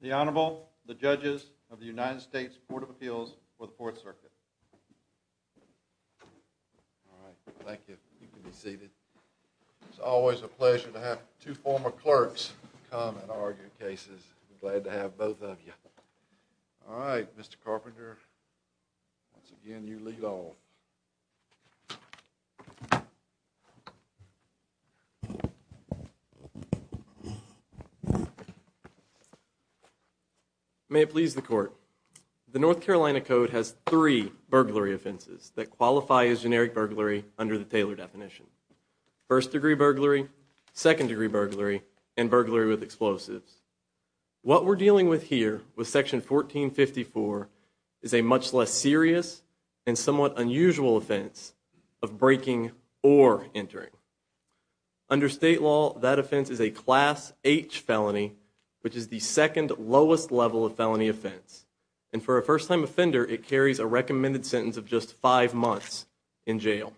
The Honorable, the judges of the United States Court of Appeals for the Fourth Circuit. Thank you. You can be seated. It's always a pleasure to have two former clerks come and argue cases. I'm glad to have both of you. All right, Mr. Carpenter, once again you lead on. May it please the court. The North Carolina Code has three burglary offenses that qualify as generic burglary under the Taylor definition. First degree burglary, second degree burglary, and burglary with explosives. What we're dealing with here with Section 1454 is a much less serious and somewhat unusual offense of breaking or entering. Under state law, that offense is a Class H felony, which is the second lowest level of felony offense. And for a first-time offender, it carries a recommended sentence of just five months in jail.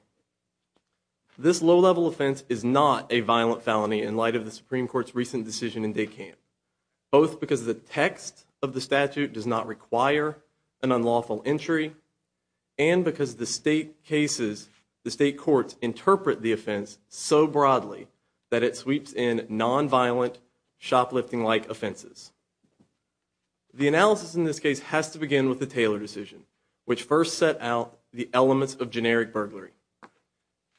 This low-level offense is not a violent felony in light of because the text of the statute does not require an unlawful entry and because the state cases, the state courts interpret the offense so broadly that it sweeps in non-violent shoplifting-like offenses. The analysis in this case has to begin with the Taylor decision, which first set out the elements of generic burglary.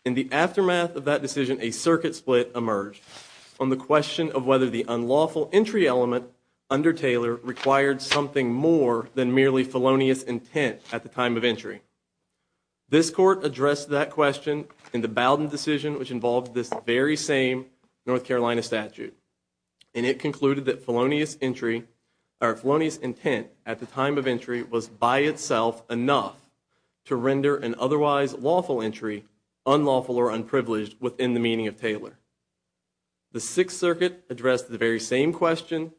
In the aftermath of that decision, a circuit split emerged on the question of whether the unlawful entry element under Taylor required something more than merely felonious intent at the time of entry. This court addressed that question in the Bowden decision, which involved this very same North Carolina statute. And it concluded that felonious intent at the time of entry was by itself enough to The Sixth Circuit addressed the very same question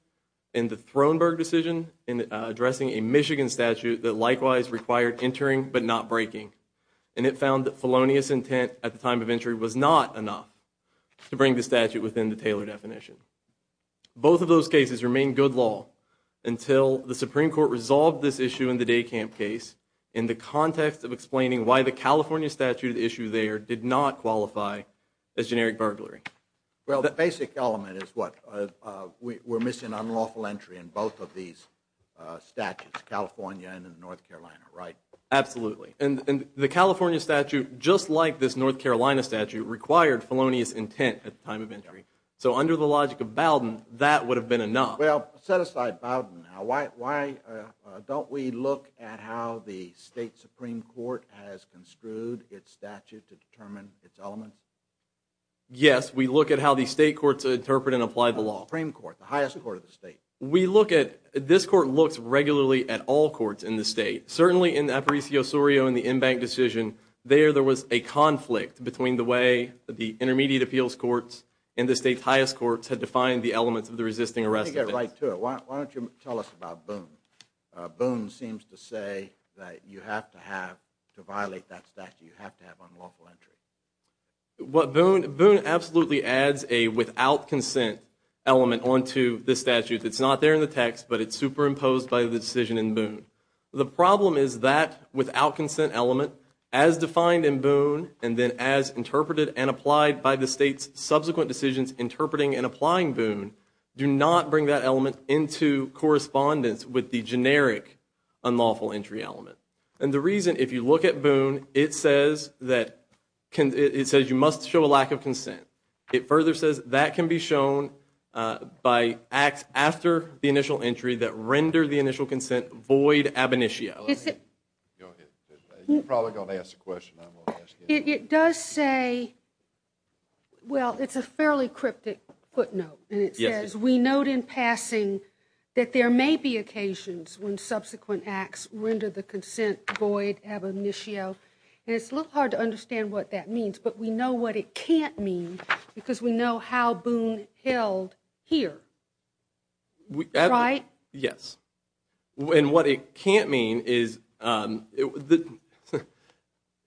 in the Throneburg decision in addressing a Michigan statute that likewise required entering but not breaking. And it found that felonious intent at the time of entry was not enough to bring the statute within the Taylor definition. Both of those cases remained good law until the Supreme Court resolved this issue in the Day Camp case in the context of explaining why the California statute at issue there did not qualify as generic burglary. Well, the basic element is what? We're missing unlawful entry in both of these statutes, California and in North Carolina, right? Absolutely. And the California statute, just like this North Carolina statute, required felonious intent at the time of entry. So under the logic of Bowden, that would have been enough. Well, set aside Bowden. Why don't we look at how the State Supreme Court has construed its statute to determine its element? Yes, we look at how the state courts interpret and apply the law. Supreme Court, the highest court of the state. We look at, this court looks regularly at all courts in the state. Certainly in the Aparicio-Sorio and the Inbank decision, there was a conflict between the way the intermediate appeals courts and the state's highest courts had defined the elements of the resisting arrest. Let me get right to it. Why don't you tell us about Boone? Boone seems to say that you have to have, to violate that statute, you have to have unlawful entry. What Boone, Boone absolutely adds a without consent element onto the statute. It's not there in the text, but it's superimposed by the decision in Boone. The problem is that without consent element, as defined in Boone, and then as interpreted and applied by the state's subsequent decisions interpreting and applying Boone, do not bring that element into correspondence with the generic unlawful entry element. And the reason, if you look at Boone, it says that, it says you must show a lack of consent. It further says that can be shown by acts after the initial entry that render the initial consent void ab initio. You're probably going to ask a question. It does say, well it's a fairly cryptic footnote, and it says we note in passing that there may be occasions when subsequent acts render the consent void ab initio. And it's a little hard to understand what that means, but we know what it can't mean because we know how Boone held here. Right? Yes. And what it can't mean is,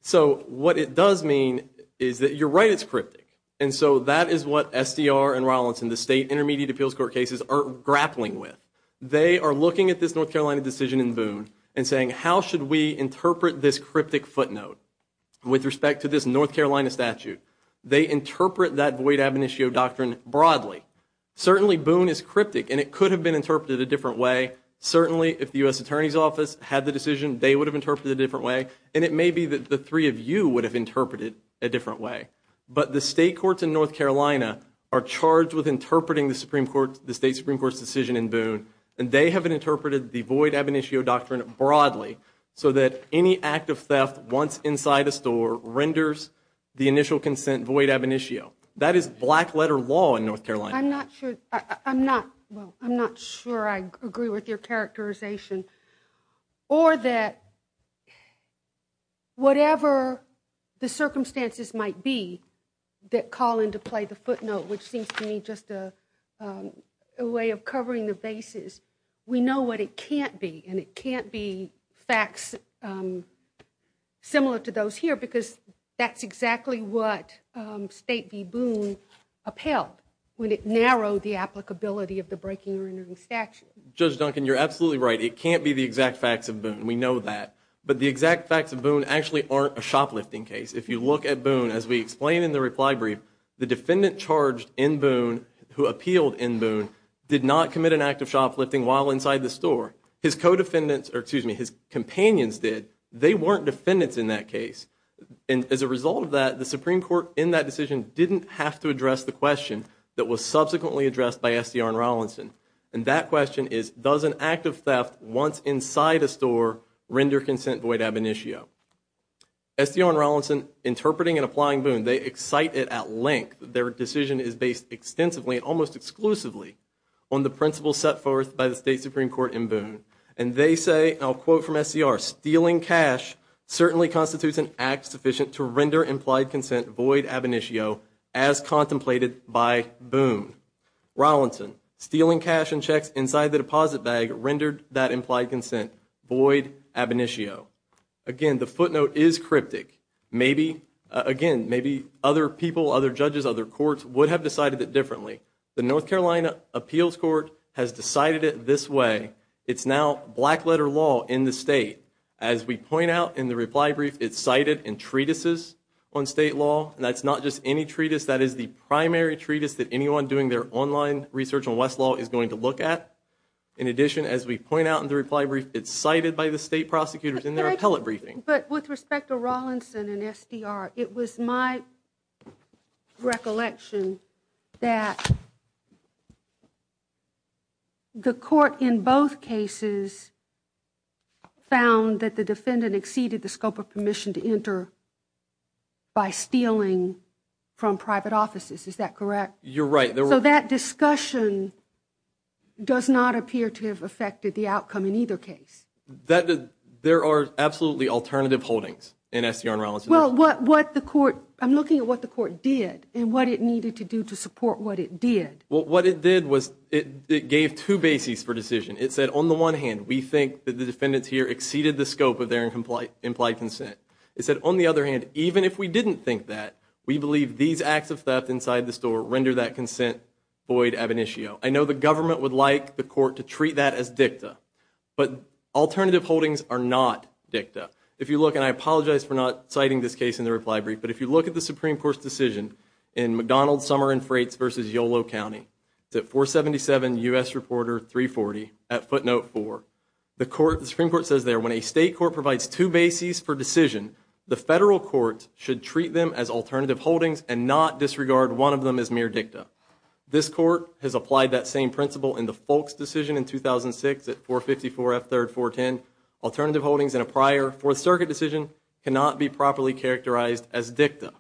so what it does mean is that you're right, it's cryptic. And so that is what SDR and Rollins and the state intermediate appeals court cases are grappling with. They are looking at this North Carolina decision in Boone and saying how should we interpret this cryptic footnote with respect to this North Carolina statute. They interpret that void ab initio doctrine broadly. Certainly Boone is cryptic and it would have been interpreted a different way. Certainly if the U.S. Attorney's Office had the decision, they would have interpreted it a different way. And it may be that the three of you would have interpreted it a different way. But the state courts in North Carolina are charged with interpreting the state Supreme Court's decision in Boone, and they have interpreted the void ab initio doctrine broadly so that any act of theft once inside a store renders the initial consent void ab initio. That is black letter law in North Carolina. I'm not sure I agree with your characterization. Or that whatever the circumstances might be that call into play the footnote, which seems to me just a way of covering the bases, we know what it can't be. And it can't be facts similar to those here because that's exactly what State v. Boone upheld when it narrowed the applicability of the breaking and rendering statute. Judge Duncan, you're absolutely right. It can't be the exact facts of Boone. We know that. But the exact facts of Boone actually aren't a shoplifting case. If you look at Boone, as we explain in the reply brief, the defendant charged in Boone who appealed in Boone did not commit an act of shoplifting while inside the store. His companions did. They weren't defendants in that case. And as a result of that, the Supreme Court in that decision didn't have to address the question that was subsequently addressed by SDR and Rollinson. And that question is, does an act of theft once inside a store render consent void ab initio? SDR and Rollinson interpreting and applying Boone, they excite it at length. Their decision is based extensively and almost exclusively on the principles set forth by the State Supreme Court in Boone. And they say, and I'll quote from SDR, stealing cash certainly constitutes an act sufficient to render implied consent void ab initio as contemplated by Boone. Rollinson, stealing cash and checks inside the deposit bag rendered that implied consent void ab initio. Again, the footnote is cryptic. Maybe, again, maybe other people, other judges, other courts would have decided it differently. The North Carolina Appeals Court has decided it this way. It's now black letter law in the State. As we point out in the reply brief, it's cited in treatises on State law. And that's not just any treatise. That is the primary treatise that anyone doing their online research on West law is going to look at. In addition, as we point out in the reply brief, it's cited by the State prosecutors in their appellate briefing. But with respect to Rollinson and SDR, it was my recollection that the court in both cases found that the defendant exceeded the scope of permission to enter by stealing from private offices. Is that correct? You're right. So that discussion does not appear to have affected the outcome in either case. There are absolutely alternative holdings in SDR and Rollinson. Well, what the court, I'm looking at what the court did and what it needed to do to support what it did. Well, what it did was it gave two bases for decision. It said, on the one hand, we think that the defendants here exceeded the scope of their implied consent. It said, on the other hand, even if we didn't think that, we believe these acts of theft inside the store render that consent void ab initio. I know the government would like the court to treat that as dicta, but alternative holdings are not dicta. If you look, and I apologize for not citing this case in the reply brief, but if you look at the Supreme Court's decision in McDonald Summer and Freights v. Yolo County, 477 U.S. Reporter 340 at footnote 4, the Supreme Court says there, when a state court provides two bases for decision, the federal court should treat them as alternative holdings and not disregard one of them as mere dicta. This court has applied that same principle in the Folks decision in 2006 at 454 F. 3rd 410. Alternative holdings in a prior Fourth Circuit decision cannot be properly characterized as dicta.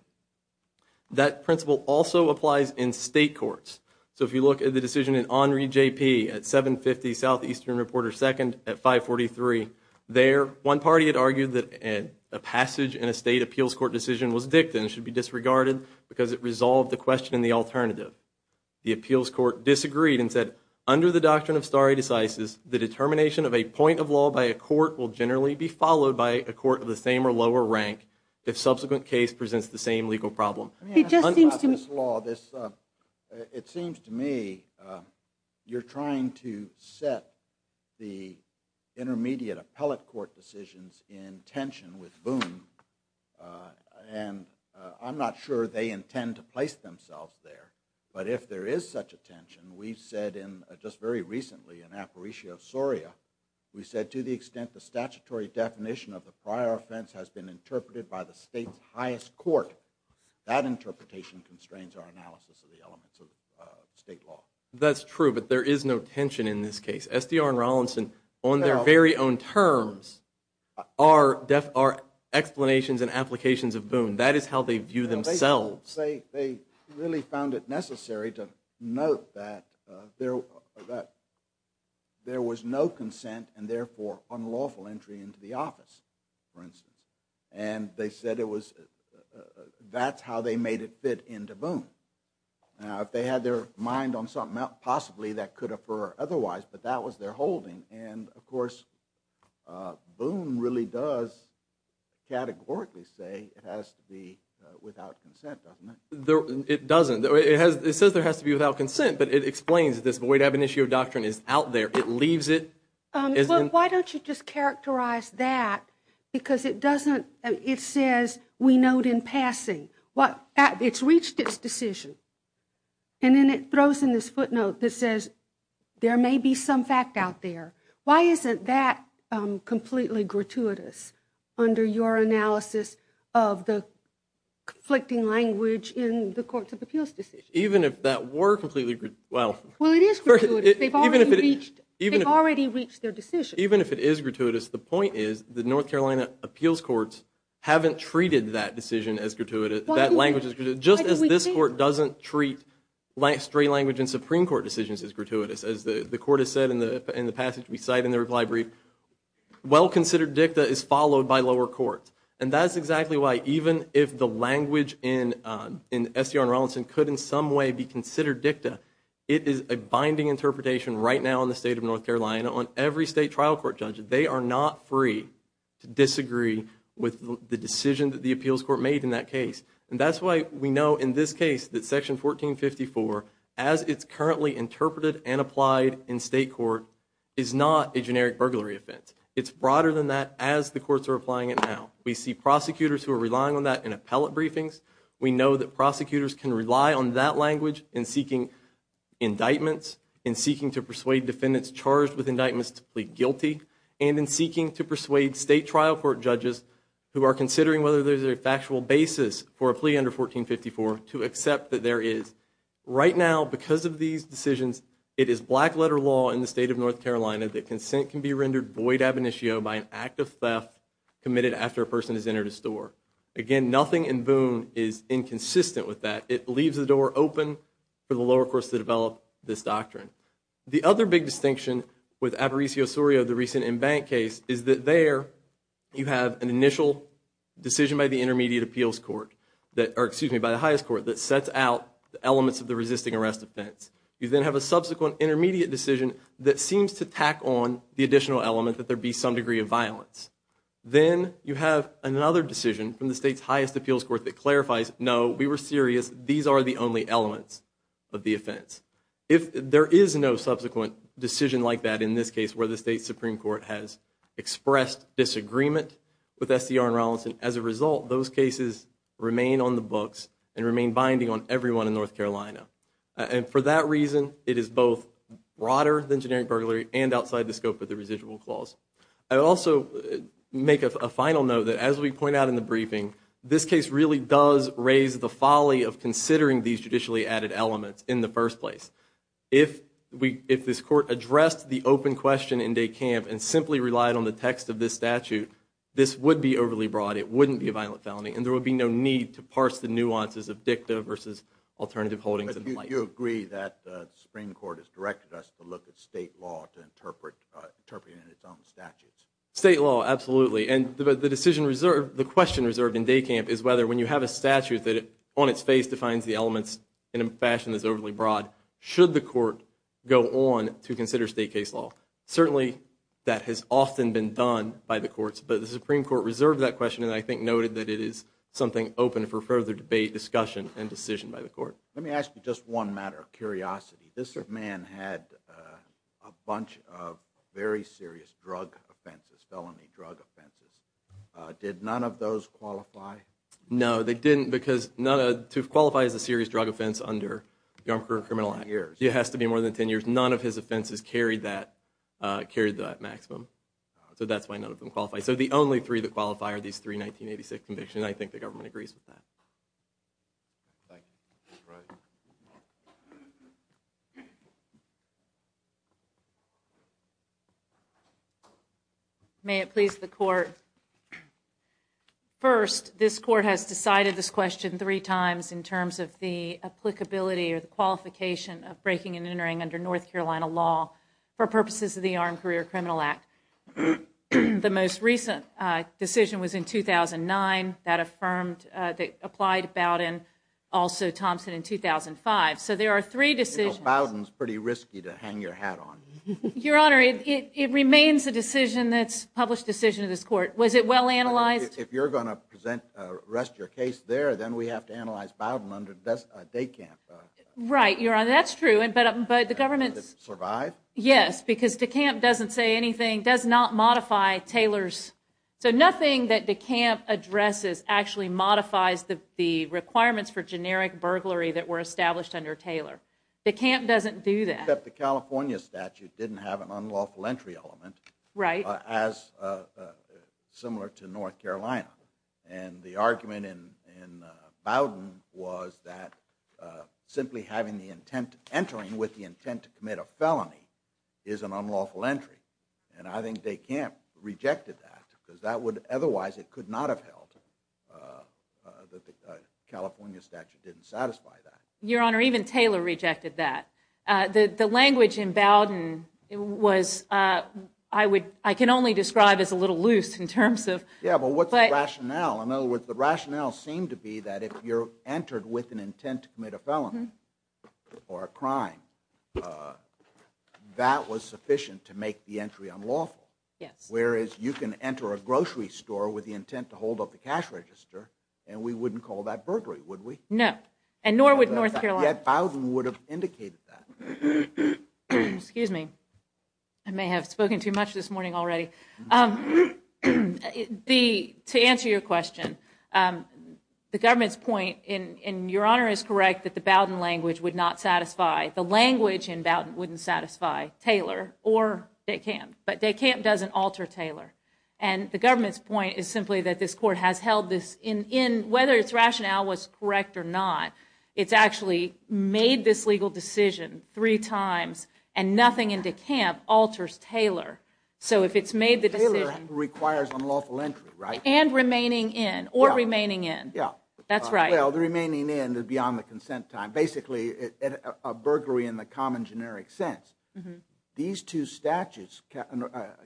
That principle also applies in state courts. So if you look at the decision in Henri J. P. at 750 Southeastern Reporter 2nd at 543, there, one party had argued that a passage in a state appeals court decision was dicta and it should be disregarded because it resolved the question in the alternative. The appeals court disagreed and said, under the doctrine of stare decisis, the determination of a point of law by a court will generally be followed by a court of the same or lower rank if subsequent case presents the same legal problem. It just seems to me... I mean, on this law, this, it seems to me you're trying to set the intermediate appellate court decisions in tension with Boone, and I'm not sure they intend to place themselves there, but if there is such a tension, we've said in, just very recently in Aparicio Soria, we said to the extent the statutory definition of the prior offense has been interpreted by the state's highest court, that interpretation constrains our analysis of the elements of state law. That's true, but there is no tension in this case. SDR and Rollinson, on their very own terms, are explanations and applications of Boone. That is how they view themselves. They really found it necessary to note that there was no consent and therefore unlawful entry into the office, for instance. And they said it was, that's how they made it fit into Boone. Now, if they had their mind on something else, possibly that could have occurred otherwise, but that was their holding. And, of course, Boone really does categorically say it has to be without consent, doesn't it? It doesn't. It says there has to be without consent, but it explains this. The way to have an issue of doctrine is out there. It leaves it. Why don't you just characterize that, because it doesn't, it says we note in passing. It's reached its decision. And then it throws in this footnote that says there may be some fact out there. Why isn't that completely gratuitous under your analysis of the conflicting language in the Courts of Appeals decision? Even if that were completely, well. Well, it is gratuitous. They've already reached their decision. Even if it is gratuitous, the point is the North Carolina Appeals Courts haven't treated that decision as gratuitous, that language as gratuitous. Just as this Court doesn't treat straight language in Supreme Court decisions as gratuitous, as the Court has said in the passage we cite in the reply brief, well-considered dicta is followed by lower courts. And that's exactly why, even if the language in SDR and Rowlandson could in some way be considered dicta, it is a binding interpretation right now in the state of North Carolina on every state trial court judge. They are not free to disagree with the decision that the Appeals Court made in that case. And that's why we know in this case that Section 1454, as it's currently interpreted and applied in state court, is not a generic burglary offense. It's broader than that as the courts are applying it now. We see prosecutors who are relying on that in appellate briefings. We know that prosecutors can rely on that language in seeking indictments, in seeking to persuade defendants charged with indictments to plead guilty, and in seeking to persuade state trial court judges who are considering whether there's a factual basis for a plea under 1454 to accept that there is. Right now, because of these decisions, it is black-letter law in the state of North Carolina that consent can be rendered void ab initio by an act of theft committed after a person has entered a store. Again, nothing in Boone is inconsistent with that. It leaves the door open for the lower courts to develop this doctrine. The other big distinction with Aparicio Osorio, the recent in-bank case, is that there you have an initial decision by the highest court that sets out the elements of the resisting arrest offense. You then have a subsequent intermediate decision that seems to tack on the additional element that there be some degree of violence. Then you have another decision from the state's highest appeals court that clarifies, no, we were serious, these are the only elements of the offense. If there is no subsequent decision like that in this case where the state's Supreme Court has expressed disagreement with SDR and Rollinson, as a result, those cases remain on the books and remain binding on everyone in North Carolina. For that reason, it is both broader than generic burglary and outside the scope of the residual clause. I'll also make a final note that, as we point out in the briefing, this case really does raise the folly of considering these judicially added elements in the first place. If this court addressed the open question in de camp and simply relied on the text of this statute, this would be overly broad, it wouldn't be a violent felony, and there would be no need to parse the nuances of dicta versus alternative holdings in place. You agree that the Supreme Court has directed us to look at state law to interpret it in its own statutes? State law, absolutely. The question reserved in de camp is whether, when you have a statute that, on its face, defines the elements in a fashion that's overly broad, should the court go on to consider state case law? Certainly, that has often been done by the courts, but the Supreme Court reserved that question and I think noted that it is something open for further debate, discussion, and decision by the court. This man had a bunch of very serious drug offenses, felony drug offenses. Did none of those qualify? No, they didn't, because to qualify as a serious drug offense under the Armed Career and Criminal Act, it has to be more than 10 years, none of his offenses carried that maximum. So that's why none of them qualify. So the only three that qualify are these three 1986 convictions, and I think the government agrees with that. Thank you. All right. May it please the Court. First, this Court has decided this question three times in terms of the applicability or the qualification of breaking and entering under North Carolina law for purposes of the Armed Career and Criminal Act. The most recent decision was in 2009 that affirmed, that applied Bowdoin, also Thompson, in 2005. So there are three decisions. You know, Bowdoin's pretty risky to hang your hat on. Your Honor, it remains a decision that's a published decision of this Court. Was it well analyzed? If you're going to present, rest your case there, then we have to analyze Bowdoin under DECAMP. And does it survive? Yes, because DECAMP doesn't say anything, does not modify Taylor's, so nothing that DECAMP addresses actually modifies the requirements for generic burglary that were established under Taylor. DECAMP doesn't do that. Except the California statute didn't have an unlawful entry element. Right. As similar to North Carolina. And the argument in Bowdoin was that simply having the intent, entering with the intent to commit a felony is an unlawful entry. And I think DECAMP rejected that, because that would, otherwise it could not have held that the California statute didn't satisfy that. Your Honor, even Taylor rejected that. The language in Bowdoin was, I would, I can only describe as a little loose in terms of Yeah, but what's the rationale? In other words, the rationale seemed to be that if you're entered with an intent to commit a felony or a crime, that was sufficient to make the entry unlawful. Yes. Whereas you can enter a grocery store with the intent to hold up the cash register, and we wouldn't call that burglary, would we? No, and nor would North Carolina. Yet Bowdoin would have indicated that. Excuse me. I may have spoken too much this morning already. To answer your question, the government's point, and Your Honor is correct, that the Bowdoin language would not satisfy, the language in Bowdoin wouldn't satisfy Taylor or DECAMP, but DECAMP doesn't alter Taylor. And the government's point is simply that this Court has held this in, whether its rationale was correct or not, it's actually made this legal decision three times, and nothing in DECAMP alters Taylor. So if it's made the decision... Taylor requires unlawful entry, right? And remaining in, or remaining in. Yeah. That's right. Well, the remaining in is beyond the consent time. Basically, a burglary in the common generic sense. These two statutes,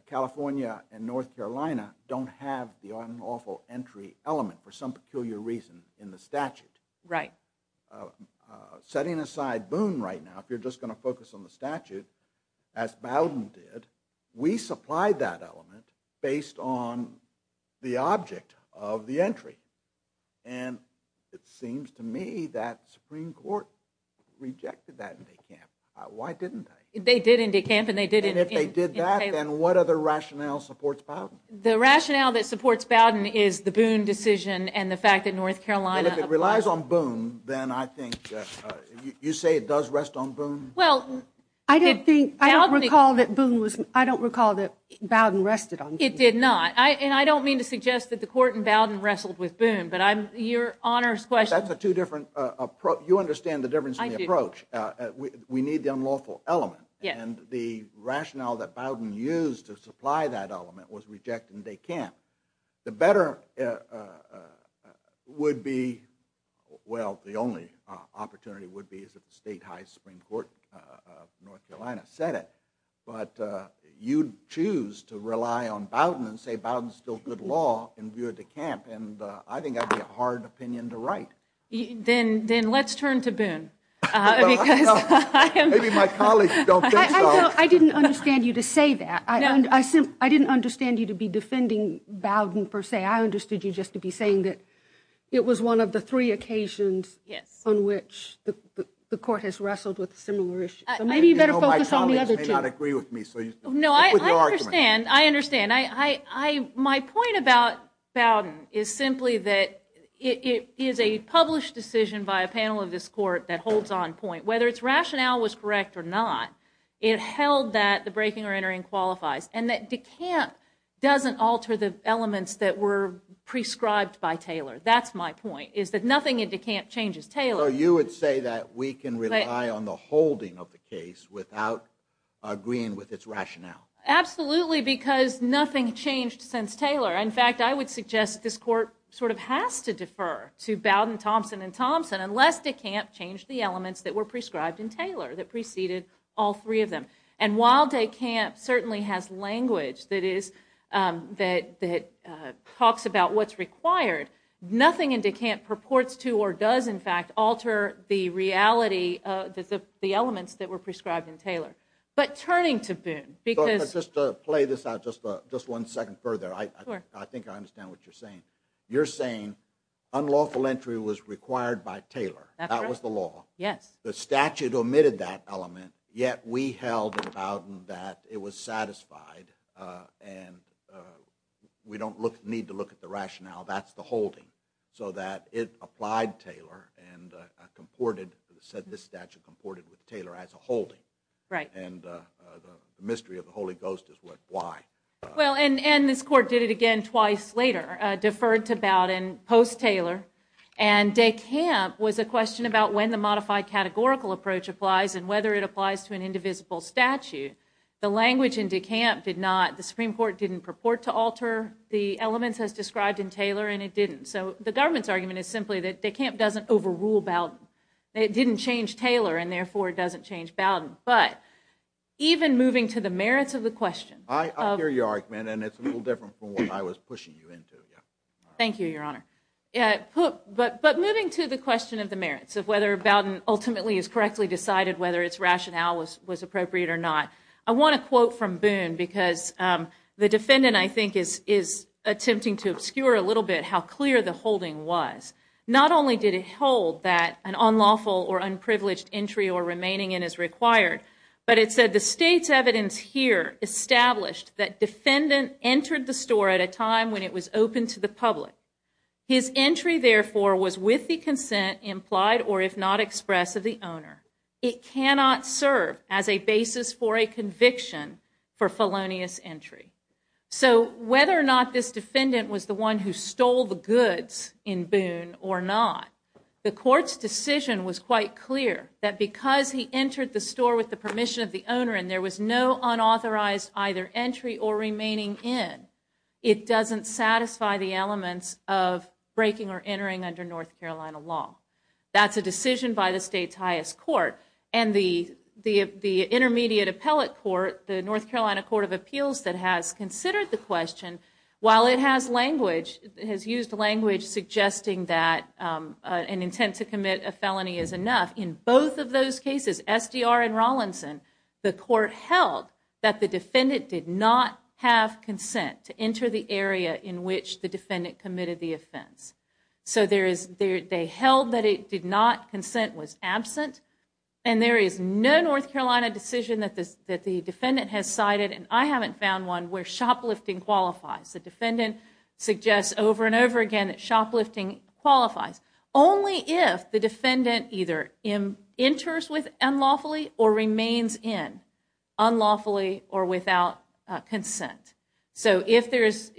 California and North Carolina, don't have the unlawful entry element for some peculiar reason in the statute. Setting aside Boone right now, if you're just going to focus on the statute, as Bowdoin did, we supplied that element based on the object of the entry. And it seems to me that Supreme Court rejected that in DECAMP. Why didn't they? They did in DECAMP, and they did in... And if they did that, then what other rationale supports Bowdoin? The rationale that supports Bowdoin is the Boone decision, and the fact that North Carolina... Well, if it relies on Boone, then I think, you say it does rest on Boone? Well, I don't think, I don't recall that Boone was, I don't recall that Bowdoin rested on Boone. It did not. And I don't mean to suggest that the court in Bowdoin wrestled with Boone, but I'm, your Honor's question... That's a two different, you understand the difference in the approach. We need the unlawful element. And the rationale that Bowdoin used to supply that element was rejected in DECAMP. The better would be, well, the only opportunity would be if the State High Supreme Court of North Carolina said it, but you'd choose to rely on Bowdoin and say Bowdoin's still good law in view of DECAMP, and I think that'd be a hard opinion to write. Then let's turn to Boone, because... Maybe my colleagues don't think so. I didn't understand you to say that. I didn't understand you to be defending Bowdoin, per se. I understood you just to be saying that it was one of the three occasions on which the court has wrestled with a similar issue. Maybe you better focus on the other two. My colleagues may not agree with me, so... No, I understand, I understand. My point about Bowdoin is simply that it is a published decision by a panel of this Court that holds on point. Whether its rationale was correct or not, it held that the breaking or entering qualifies, and that DECAMP doesn't alter the elements that were prescribed by Taylor. That's my point, is that nothing in DECAMP changes Taylor. So you would say that we can rely on the holding of the case without agreeing with its rationale? Absolutely, because nothing changed since Taylor. In fact, I would suggest this Court sort of has to defer to Bowdoin, Thompson, and Thompson unless DECAMP changed the elements that were prescribed in Taylor, that preceded all three of them. And while DECAMP certainly has language that talks about what's required, nothing in DECAMP purports to or does, in fact, alter the reality of the elements that were prescribed in Taylor. But turning to Boone, because... Just to play this out just one second further, I think I understand what you're saying. You're saying unlawful entry was required by Taylor. That's right. That was the law. Yes. The statute omitted that element, yet we held in Bowdoin that it was satisfied and we don't need to look at the rationale. That's the holding. So that it applied Taylor and said this statute comported with Taylor as a holding. Right. And the mystery of the Holy Ghost is why. Well, and this Court did it again twice later, deferred to Bowdoin post-Taylor, and DECAMP was a question about when the modified categorical approach applies and whether it applies to an indivisible statute. The language in DECAMP did not, the Supreme Court didn't purport to alter the elements as described in Taylor, and it didn't. So the government's argument is simply that DECAMP doesn't overrule Bowdoin. It didn't change Taylor, and therefore it doesn't change Bowdoin. But even moving to the merits of the question... I hear your argument, and it's a little different from what I was pushing you into. Thank you, Your Honor. But moving to the question of the merits, of whether Bowdoin ultimately has correctly decided whether its rationale was appropriate or not, I want to quote from Boone because the defendant, I think, is attempting to obscure a little bit how clear the holding was. Not only did it hold that an unlawful or unprivileged entry or remaining in is required, but it said, The State's evidence here established that defendant entered the store at a time when it was open to the public. His entry, therefore, was with the consent implied or if not expressed of the owner. It cannot serve as a basis for a conviction for felonious entry. So whether or not this defendant was the one who stole the goods in Boone or not, the court's decision was quite clear that because he entered the store with the permission of the owner and there was no unauthorized either entry or remaining in, it doesn't satisfy the elements of breaking or entering under North Carolina law. That's a decision by the State's highest court. And the Intermediate Appellate Court, the North Carolina Court of Appeals, that has considered the question, while it has language, has used language suggesting that an intent to commit a felony is enough, in both of those cases, SDR and Rawlinson, the court held that the defendant did not have consent to enter the area in which the defendant committed the offense. So they held that it did not, consent was absent, and there is no North Carolina decision that the defendant has cited, and I haven't found one, where shoplifting qualifies. The defendant suggests over and over again that shoplifting qualifies. Only if the defendant either enters unlawfully or remains in, unlawfully or without consent. So if there is,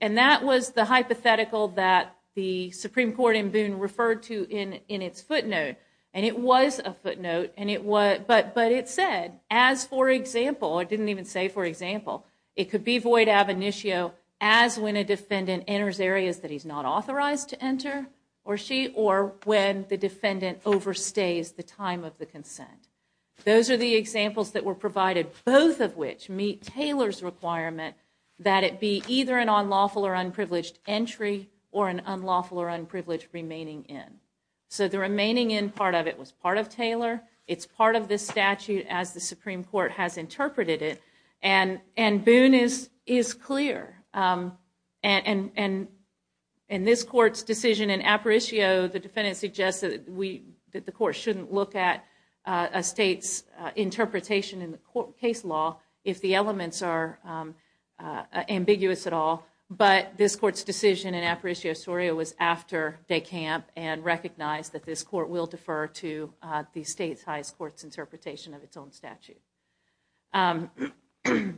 and that was the hypothetical that the Supreme Court in Boone referred to in its footnote, and it was a footnote, but it said, as for example, it didn't even say for example, it could be void ab initio as when a defendant enters areas that he's not authorized to enter, or she, or when the defendant overstays the time of the consent. Those are the examples that were provided, both of which meet Taylor's requirement, that it be either an unlawful or unprivileged entry, or an unlawful or unprivileged remaining in. So the remaining in part of it was part of Taylor, it's part of the statute as the Supreme Court has interpreted it, and Boone is clear. And this court's decision in apparitio, the defendant suggests that the court shouldn't look at a state's interpretation in the court case law if the elements are ambiguous at all, but this court's decision in apparitio soria was after de camp and recognized that this court will defer to the state's highest court's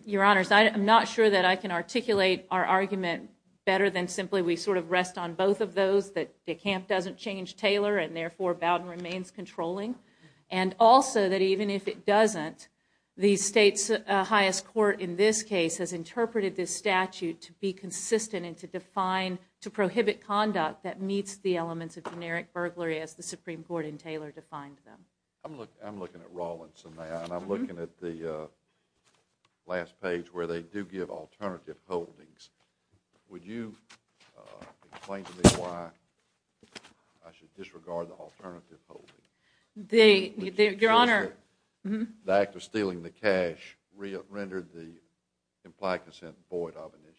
Your honors, I'm not sure that I can articulate our argument better than simply we sort of rest on both of those, that de camp doesn't change Taylor, and therefore Bowden remains controlling, and also that even if it doesn't, the state's highest court in this case has interpreted this statute to be consistent and to define, to prohibit conduct that meets the elements of generic burglary as the Supreme Court in Taylor defined them. I'm looking at Rawlinson now, and I'm looking at the last page where they do give alternative holdings. Would you explain to me why I should disregard the alternative holdings? Your Honor. The act of stealing the cash rendered the implied consent void of initiative.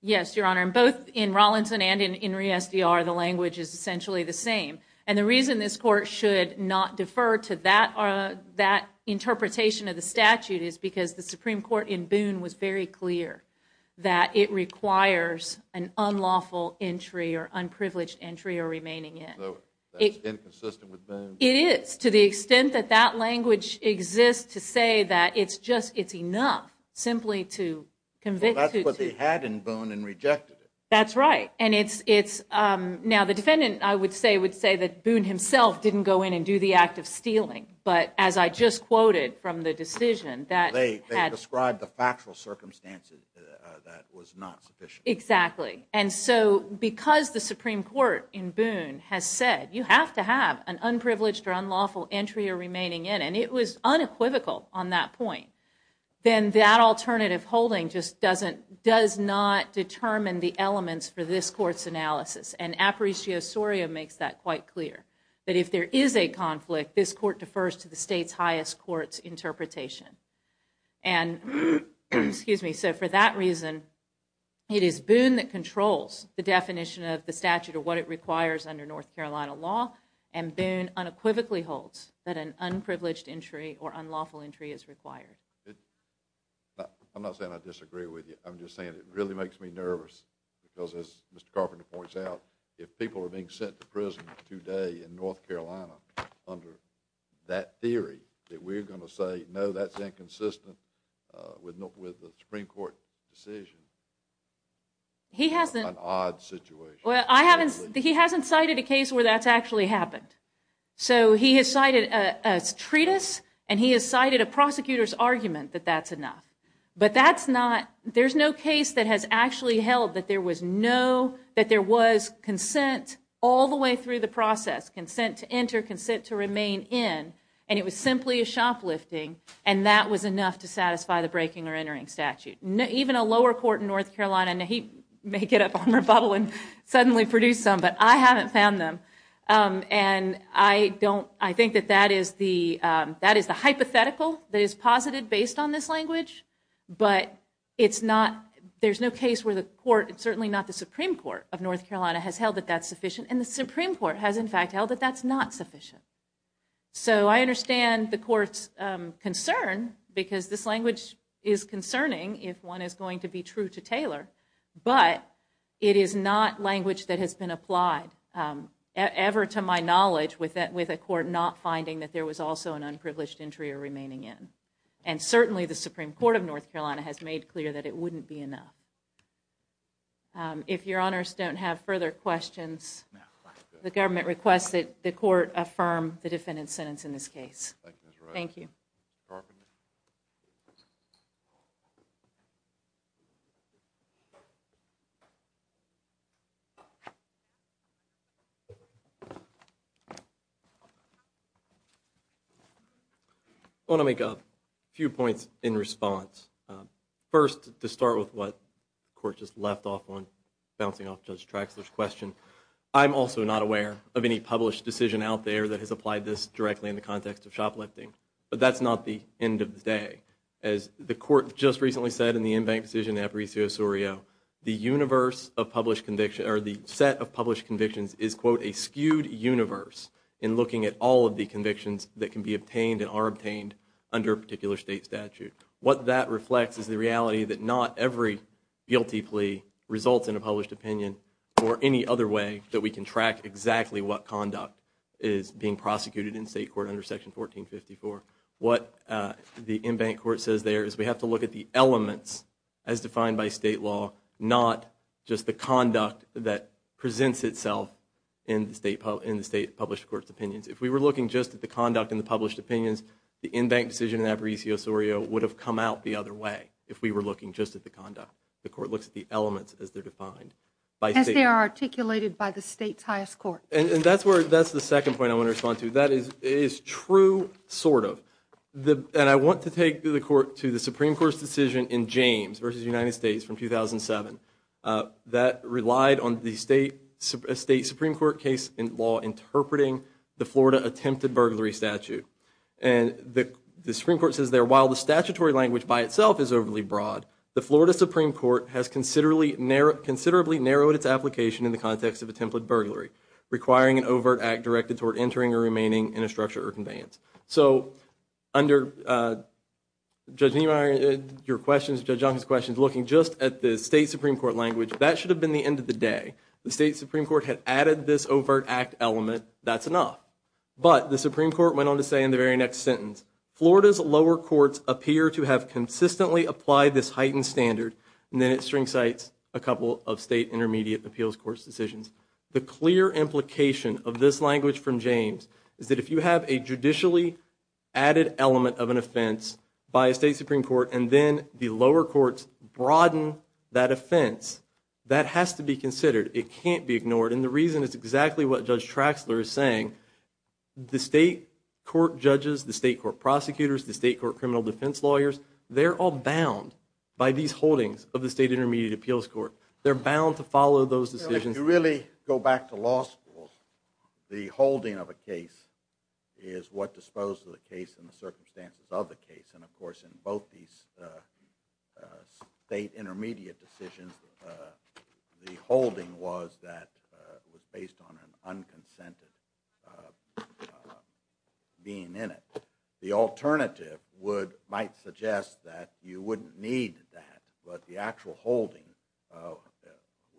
Yes, Your Honor, and both in Rawlinson and in Re-SDR, the language is essentially the same. And the reason this court should not defer to that interpretation of the statute is because the Supreme Court in Boone was very clear that it requires an unlawful entry or unprivileged entry or remaining in. So it's inconsistent with Boone? It is to the extent that that language exists to say that it's enough simply to convict. That's what they had in Boone and rejected it. That's right. Now, the defendant, I would say, would say that Boone himself didn't go in and do the act of stealing. But as I just quoted from the decision that had... They described the factual circumstances that was not sufficient. Exactly. And so because the Supreme Court in Boone has said you have to have an unprivileged or unlawful entry or remaining in, and it was unequivocal on that point, then that alternative holding just doesn't... does not determine the elements for this court's analysis. And Aparicio Soria makes that quite clear, that if there is a conflict, this court defers to the state's highest court's interpretation. And... Excuse me. So for that reason, it is Boone that controls the definition of the statute or what it requires under North Carolina law, and Boone unequivocally holds that an unprivileged entry or unlawful entry is required. I'm not saying I disagree with you. I'm just saying it really makes me nervous because, as Mr. Carpenter points out, if people are being sent to prison today in North Carolina under that theory, that we're going to say, no, that's inconsistent with the Supreme Court decision. He hasn't... It's an odd situation. Well, I haven't... He hasn't cited a case where that's actually happened. So he has cited a treatise, and he has cited a prosecutor's argument that that's enough. But that's not... There's no case that has actually held that there was no... that there was consent all the way through the process, consent to enter, consent to remain in, and it was simply a shoplifting, and that was enough to satisfy the breaking or entering statute. Even a lower court in North Carolina... He may get up on rebuttal and suddenly produce some, but I haven't found them. And I don't... I think that that is the hypothetical that is posited based on this language, but it's not... There's no case where the court, certainly not the Supreme Court of North Carolina, has held that that's sufficient. And the Supreme Court has, in fact, held that that's not sufficient. So I understand the court's concern because this language is concerning if one is going to be true to Taylor, but it is not language that has been applied ever, to my knowledge, with a court not finding that there was also an unprivileged entry or remaining in. And certainly the Supreme Court of North Carolina has made clear that it wouldn't be enough. If Your Honors don't have further questions, the government requests that the court affirm the defendant's sentence in this case. Thank you. Thank you. I want to make a few points in response. First, to start with what the court just left off on bouncing off Judge Traxler's question, I'm also not aware of any published decision out there that has applied this directly in the context of shoplifting. But that's not the end of the day. As the court just recently said in the in-bank decision of Aparicio Surio, the universe of published convictions, or the set of published convictions, is, quote, a skewed universe in looking at all of the convictions that can be obtained and are obtained under a particular state statute. What that reflects is the reality that not every guilty plea results in a published opinion or any other way that we can track exactly what conduct is being prosecuted in state court under Section 1454. What the in-bank court says there is we have to look at the elements as defined by state law, not just the conduct that presents itself in the state published court's opinions. If we were looking just at the conduct in the published opinions, the in-bank decision in Aparicio Surio would have come out the other way if we were looking just at the conduct. The court looks at the elements as they're defined by state law. As they are articulated by the state's highest court. And that's the second point I want to respond to. That is true, sort of. And I want to take the Supreme Court's decision in James v. United States from 2007. That relied on the state Supreme Court case law interpreting the Florida attempted burglary statute. And the Supreme Court says there, while the statutory language by itself is overly broad, the Florida Supreme Court has considerably narrowed its application in the context of attempted burglary, requiring an overt act directed toward entering or remaining in a structure or conveyance. So under Judge Niemeyer, your questions, Judge Duncan's questions, looking just at the state Supreme Court language, that should have been the end of the day. The state Supreme Court had added this overt act element. That's enough. But the Supreme Court went on to say in the very next sentence, Florida's lower courts appear to have consistently applied this heightened standard. And then it string cites a couple of state intermediate appeals court's decisions. The clear implication of this language from James is that if you have a judicially added element of an offense by a state Supreme Court and then the lower courts broaden that offense, that has to be considered. It can't be ignored. And the reason is exactly what Judge Traxler is saying. The state court judges, the state court prosecutors, the state court criminal defense lawyers, they're all bound by these holdings of the state intermediate appeals court. They're bound to follow those decisions. If you really go back to law schools, the holding of a case is what disposed of the case and the circumstances of the case. And of course, in both these state intermediate decisions, the holding was that it was based on an unconsented being in it. The alternative might suggest that you wouldn't need that, but the actual holding,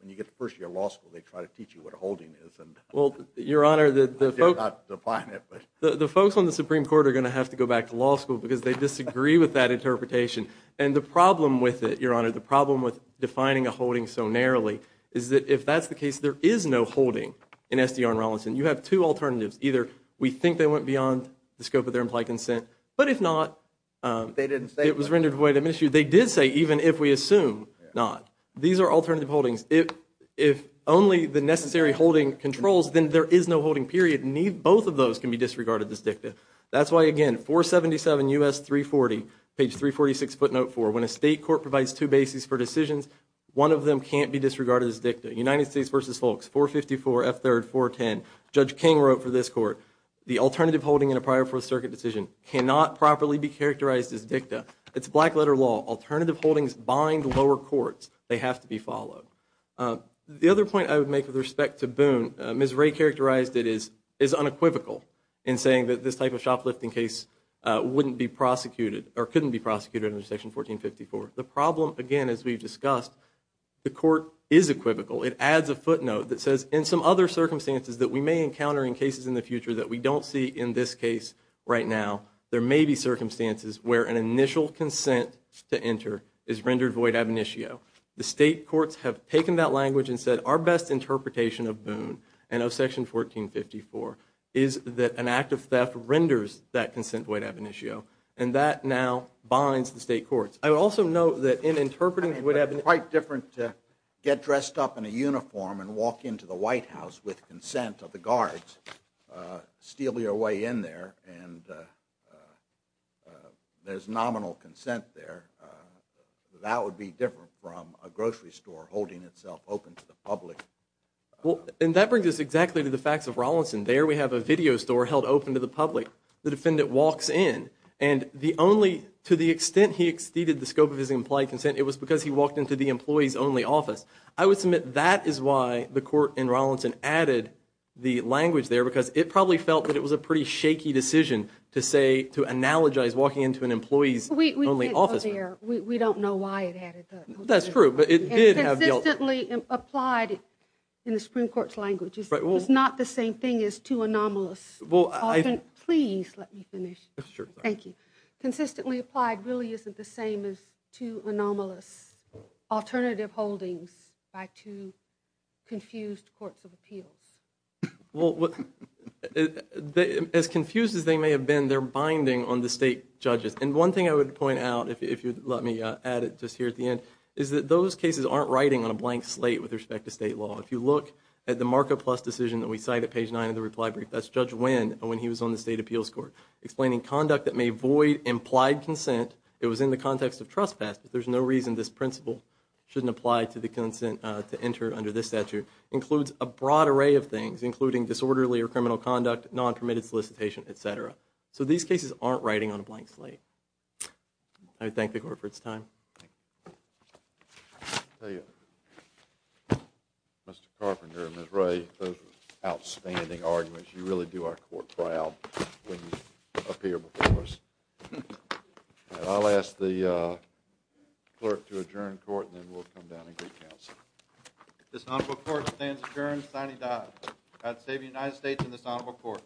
when you get to first year of law school, they try to teach you what a holding is. Well, Your Honor, the folks on the Supreme Court are going to have to go back to law school because they disagree with that interpretation. And the problem with it, Your Honor, the problem with defining a holding so narrowly is that if that's the case, there is no holding in SDR and Rollinson. You have two alternatives. Either we think they went beyond the scope of their implied consent, but if not, it was rendered void of issue. They did say even if we assume not. These are alternative holdings. If only the necessary holding controls, then there is no holding period. Both of those can be disregarded as dicta. That's why, again, 477 U.S. 340, page 346 footnote 4, when a state court provides two bases for decisions, one of them can't be disregarded as dicta. United States v. Folks, 454 F. 3rd 410, Judge King wrote for this court, the alternative holding in a prior Fourth Circuit decision cannot properly be characterized as dicta. It's black-letter law. Alternative holdings bind lower courts. They have to be followed. The other point I would make with respect to Boone, Ms. Ray characterized it as unequivocal in saying that this type of shoplifting case wouldn't be prosecuted, or couldn't be prosecuted under Section 1454. The problem, again, as we've discussed, the court is equivocal. It adds a footnote that says, in some other circumstances that we may encounter in cases in the future that we don't see in this case right now, there may be circumstances where an initial consent to enter is rendered void ab initio. The state courts have taken that language and said our best interpretation of Boone and of Section 1454 is that an act of theft renders that consent void ab initio, and that now binds the state courts. I would also note that in interpreting void ab initio... It's quite different to get dressed up in a uniform and walk into the White House with consent of the guards, steal your way in there, and there's nominal consent there. That would be different from a grocery store holding itself open to the public. And that brings us exactly to the facts of Rollinson. There we have a video store held open to the public. The defendant walks in, and the only... To the extent he exceeded the scope of his implied consent, it was because he walked into the employees-only office. I would submit that is why the court in Rollinson added the language there, because it probably felt that it was a pretty shaky decision to say, to analogize walking into an employees-only office. We don't know why it added that. That's true, but it did have... Consistently applied in the Supreme Court's language. It's not the same thing as too anomalous. Please let me finish. Thank you. Consistently applied really isn't the same as too anomalous alternative holdings by two confused courts of appeals. Well, as confused as they may have been, they're binding on the state judges. And one thing I would point out, if you'd let me add it just here at the end, is that those cases aren't writing on a blank slate with respect to state law. If you look at the Markup Plus decision that we cite at page 9 of the reply brief, that's Judge Winn, when he was on the state appeals court, explaining conduct that may void implied consent. It was in the context of trespass, but there's no reason this principle shouldn't apply to the consent to enter under this statute. It includes a broad array of things, including disorderly or criminal conduct, non-permitted solicitation, et cetera. So these cases aren't writing on a blank slate. I thank the Court for its time. Thank you. I'll tell you, Mr. Carpenter and Ms. Ray, those were outstanding arguments. You really do our Court proud when you appear before us. I'll ask the clerk to adjourn court, and then we'll come down and get counsel. This honorable Court stands adjourned, sine die. God save the United States and this honorable Court.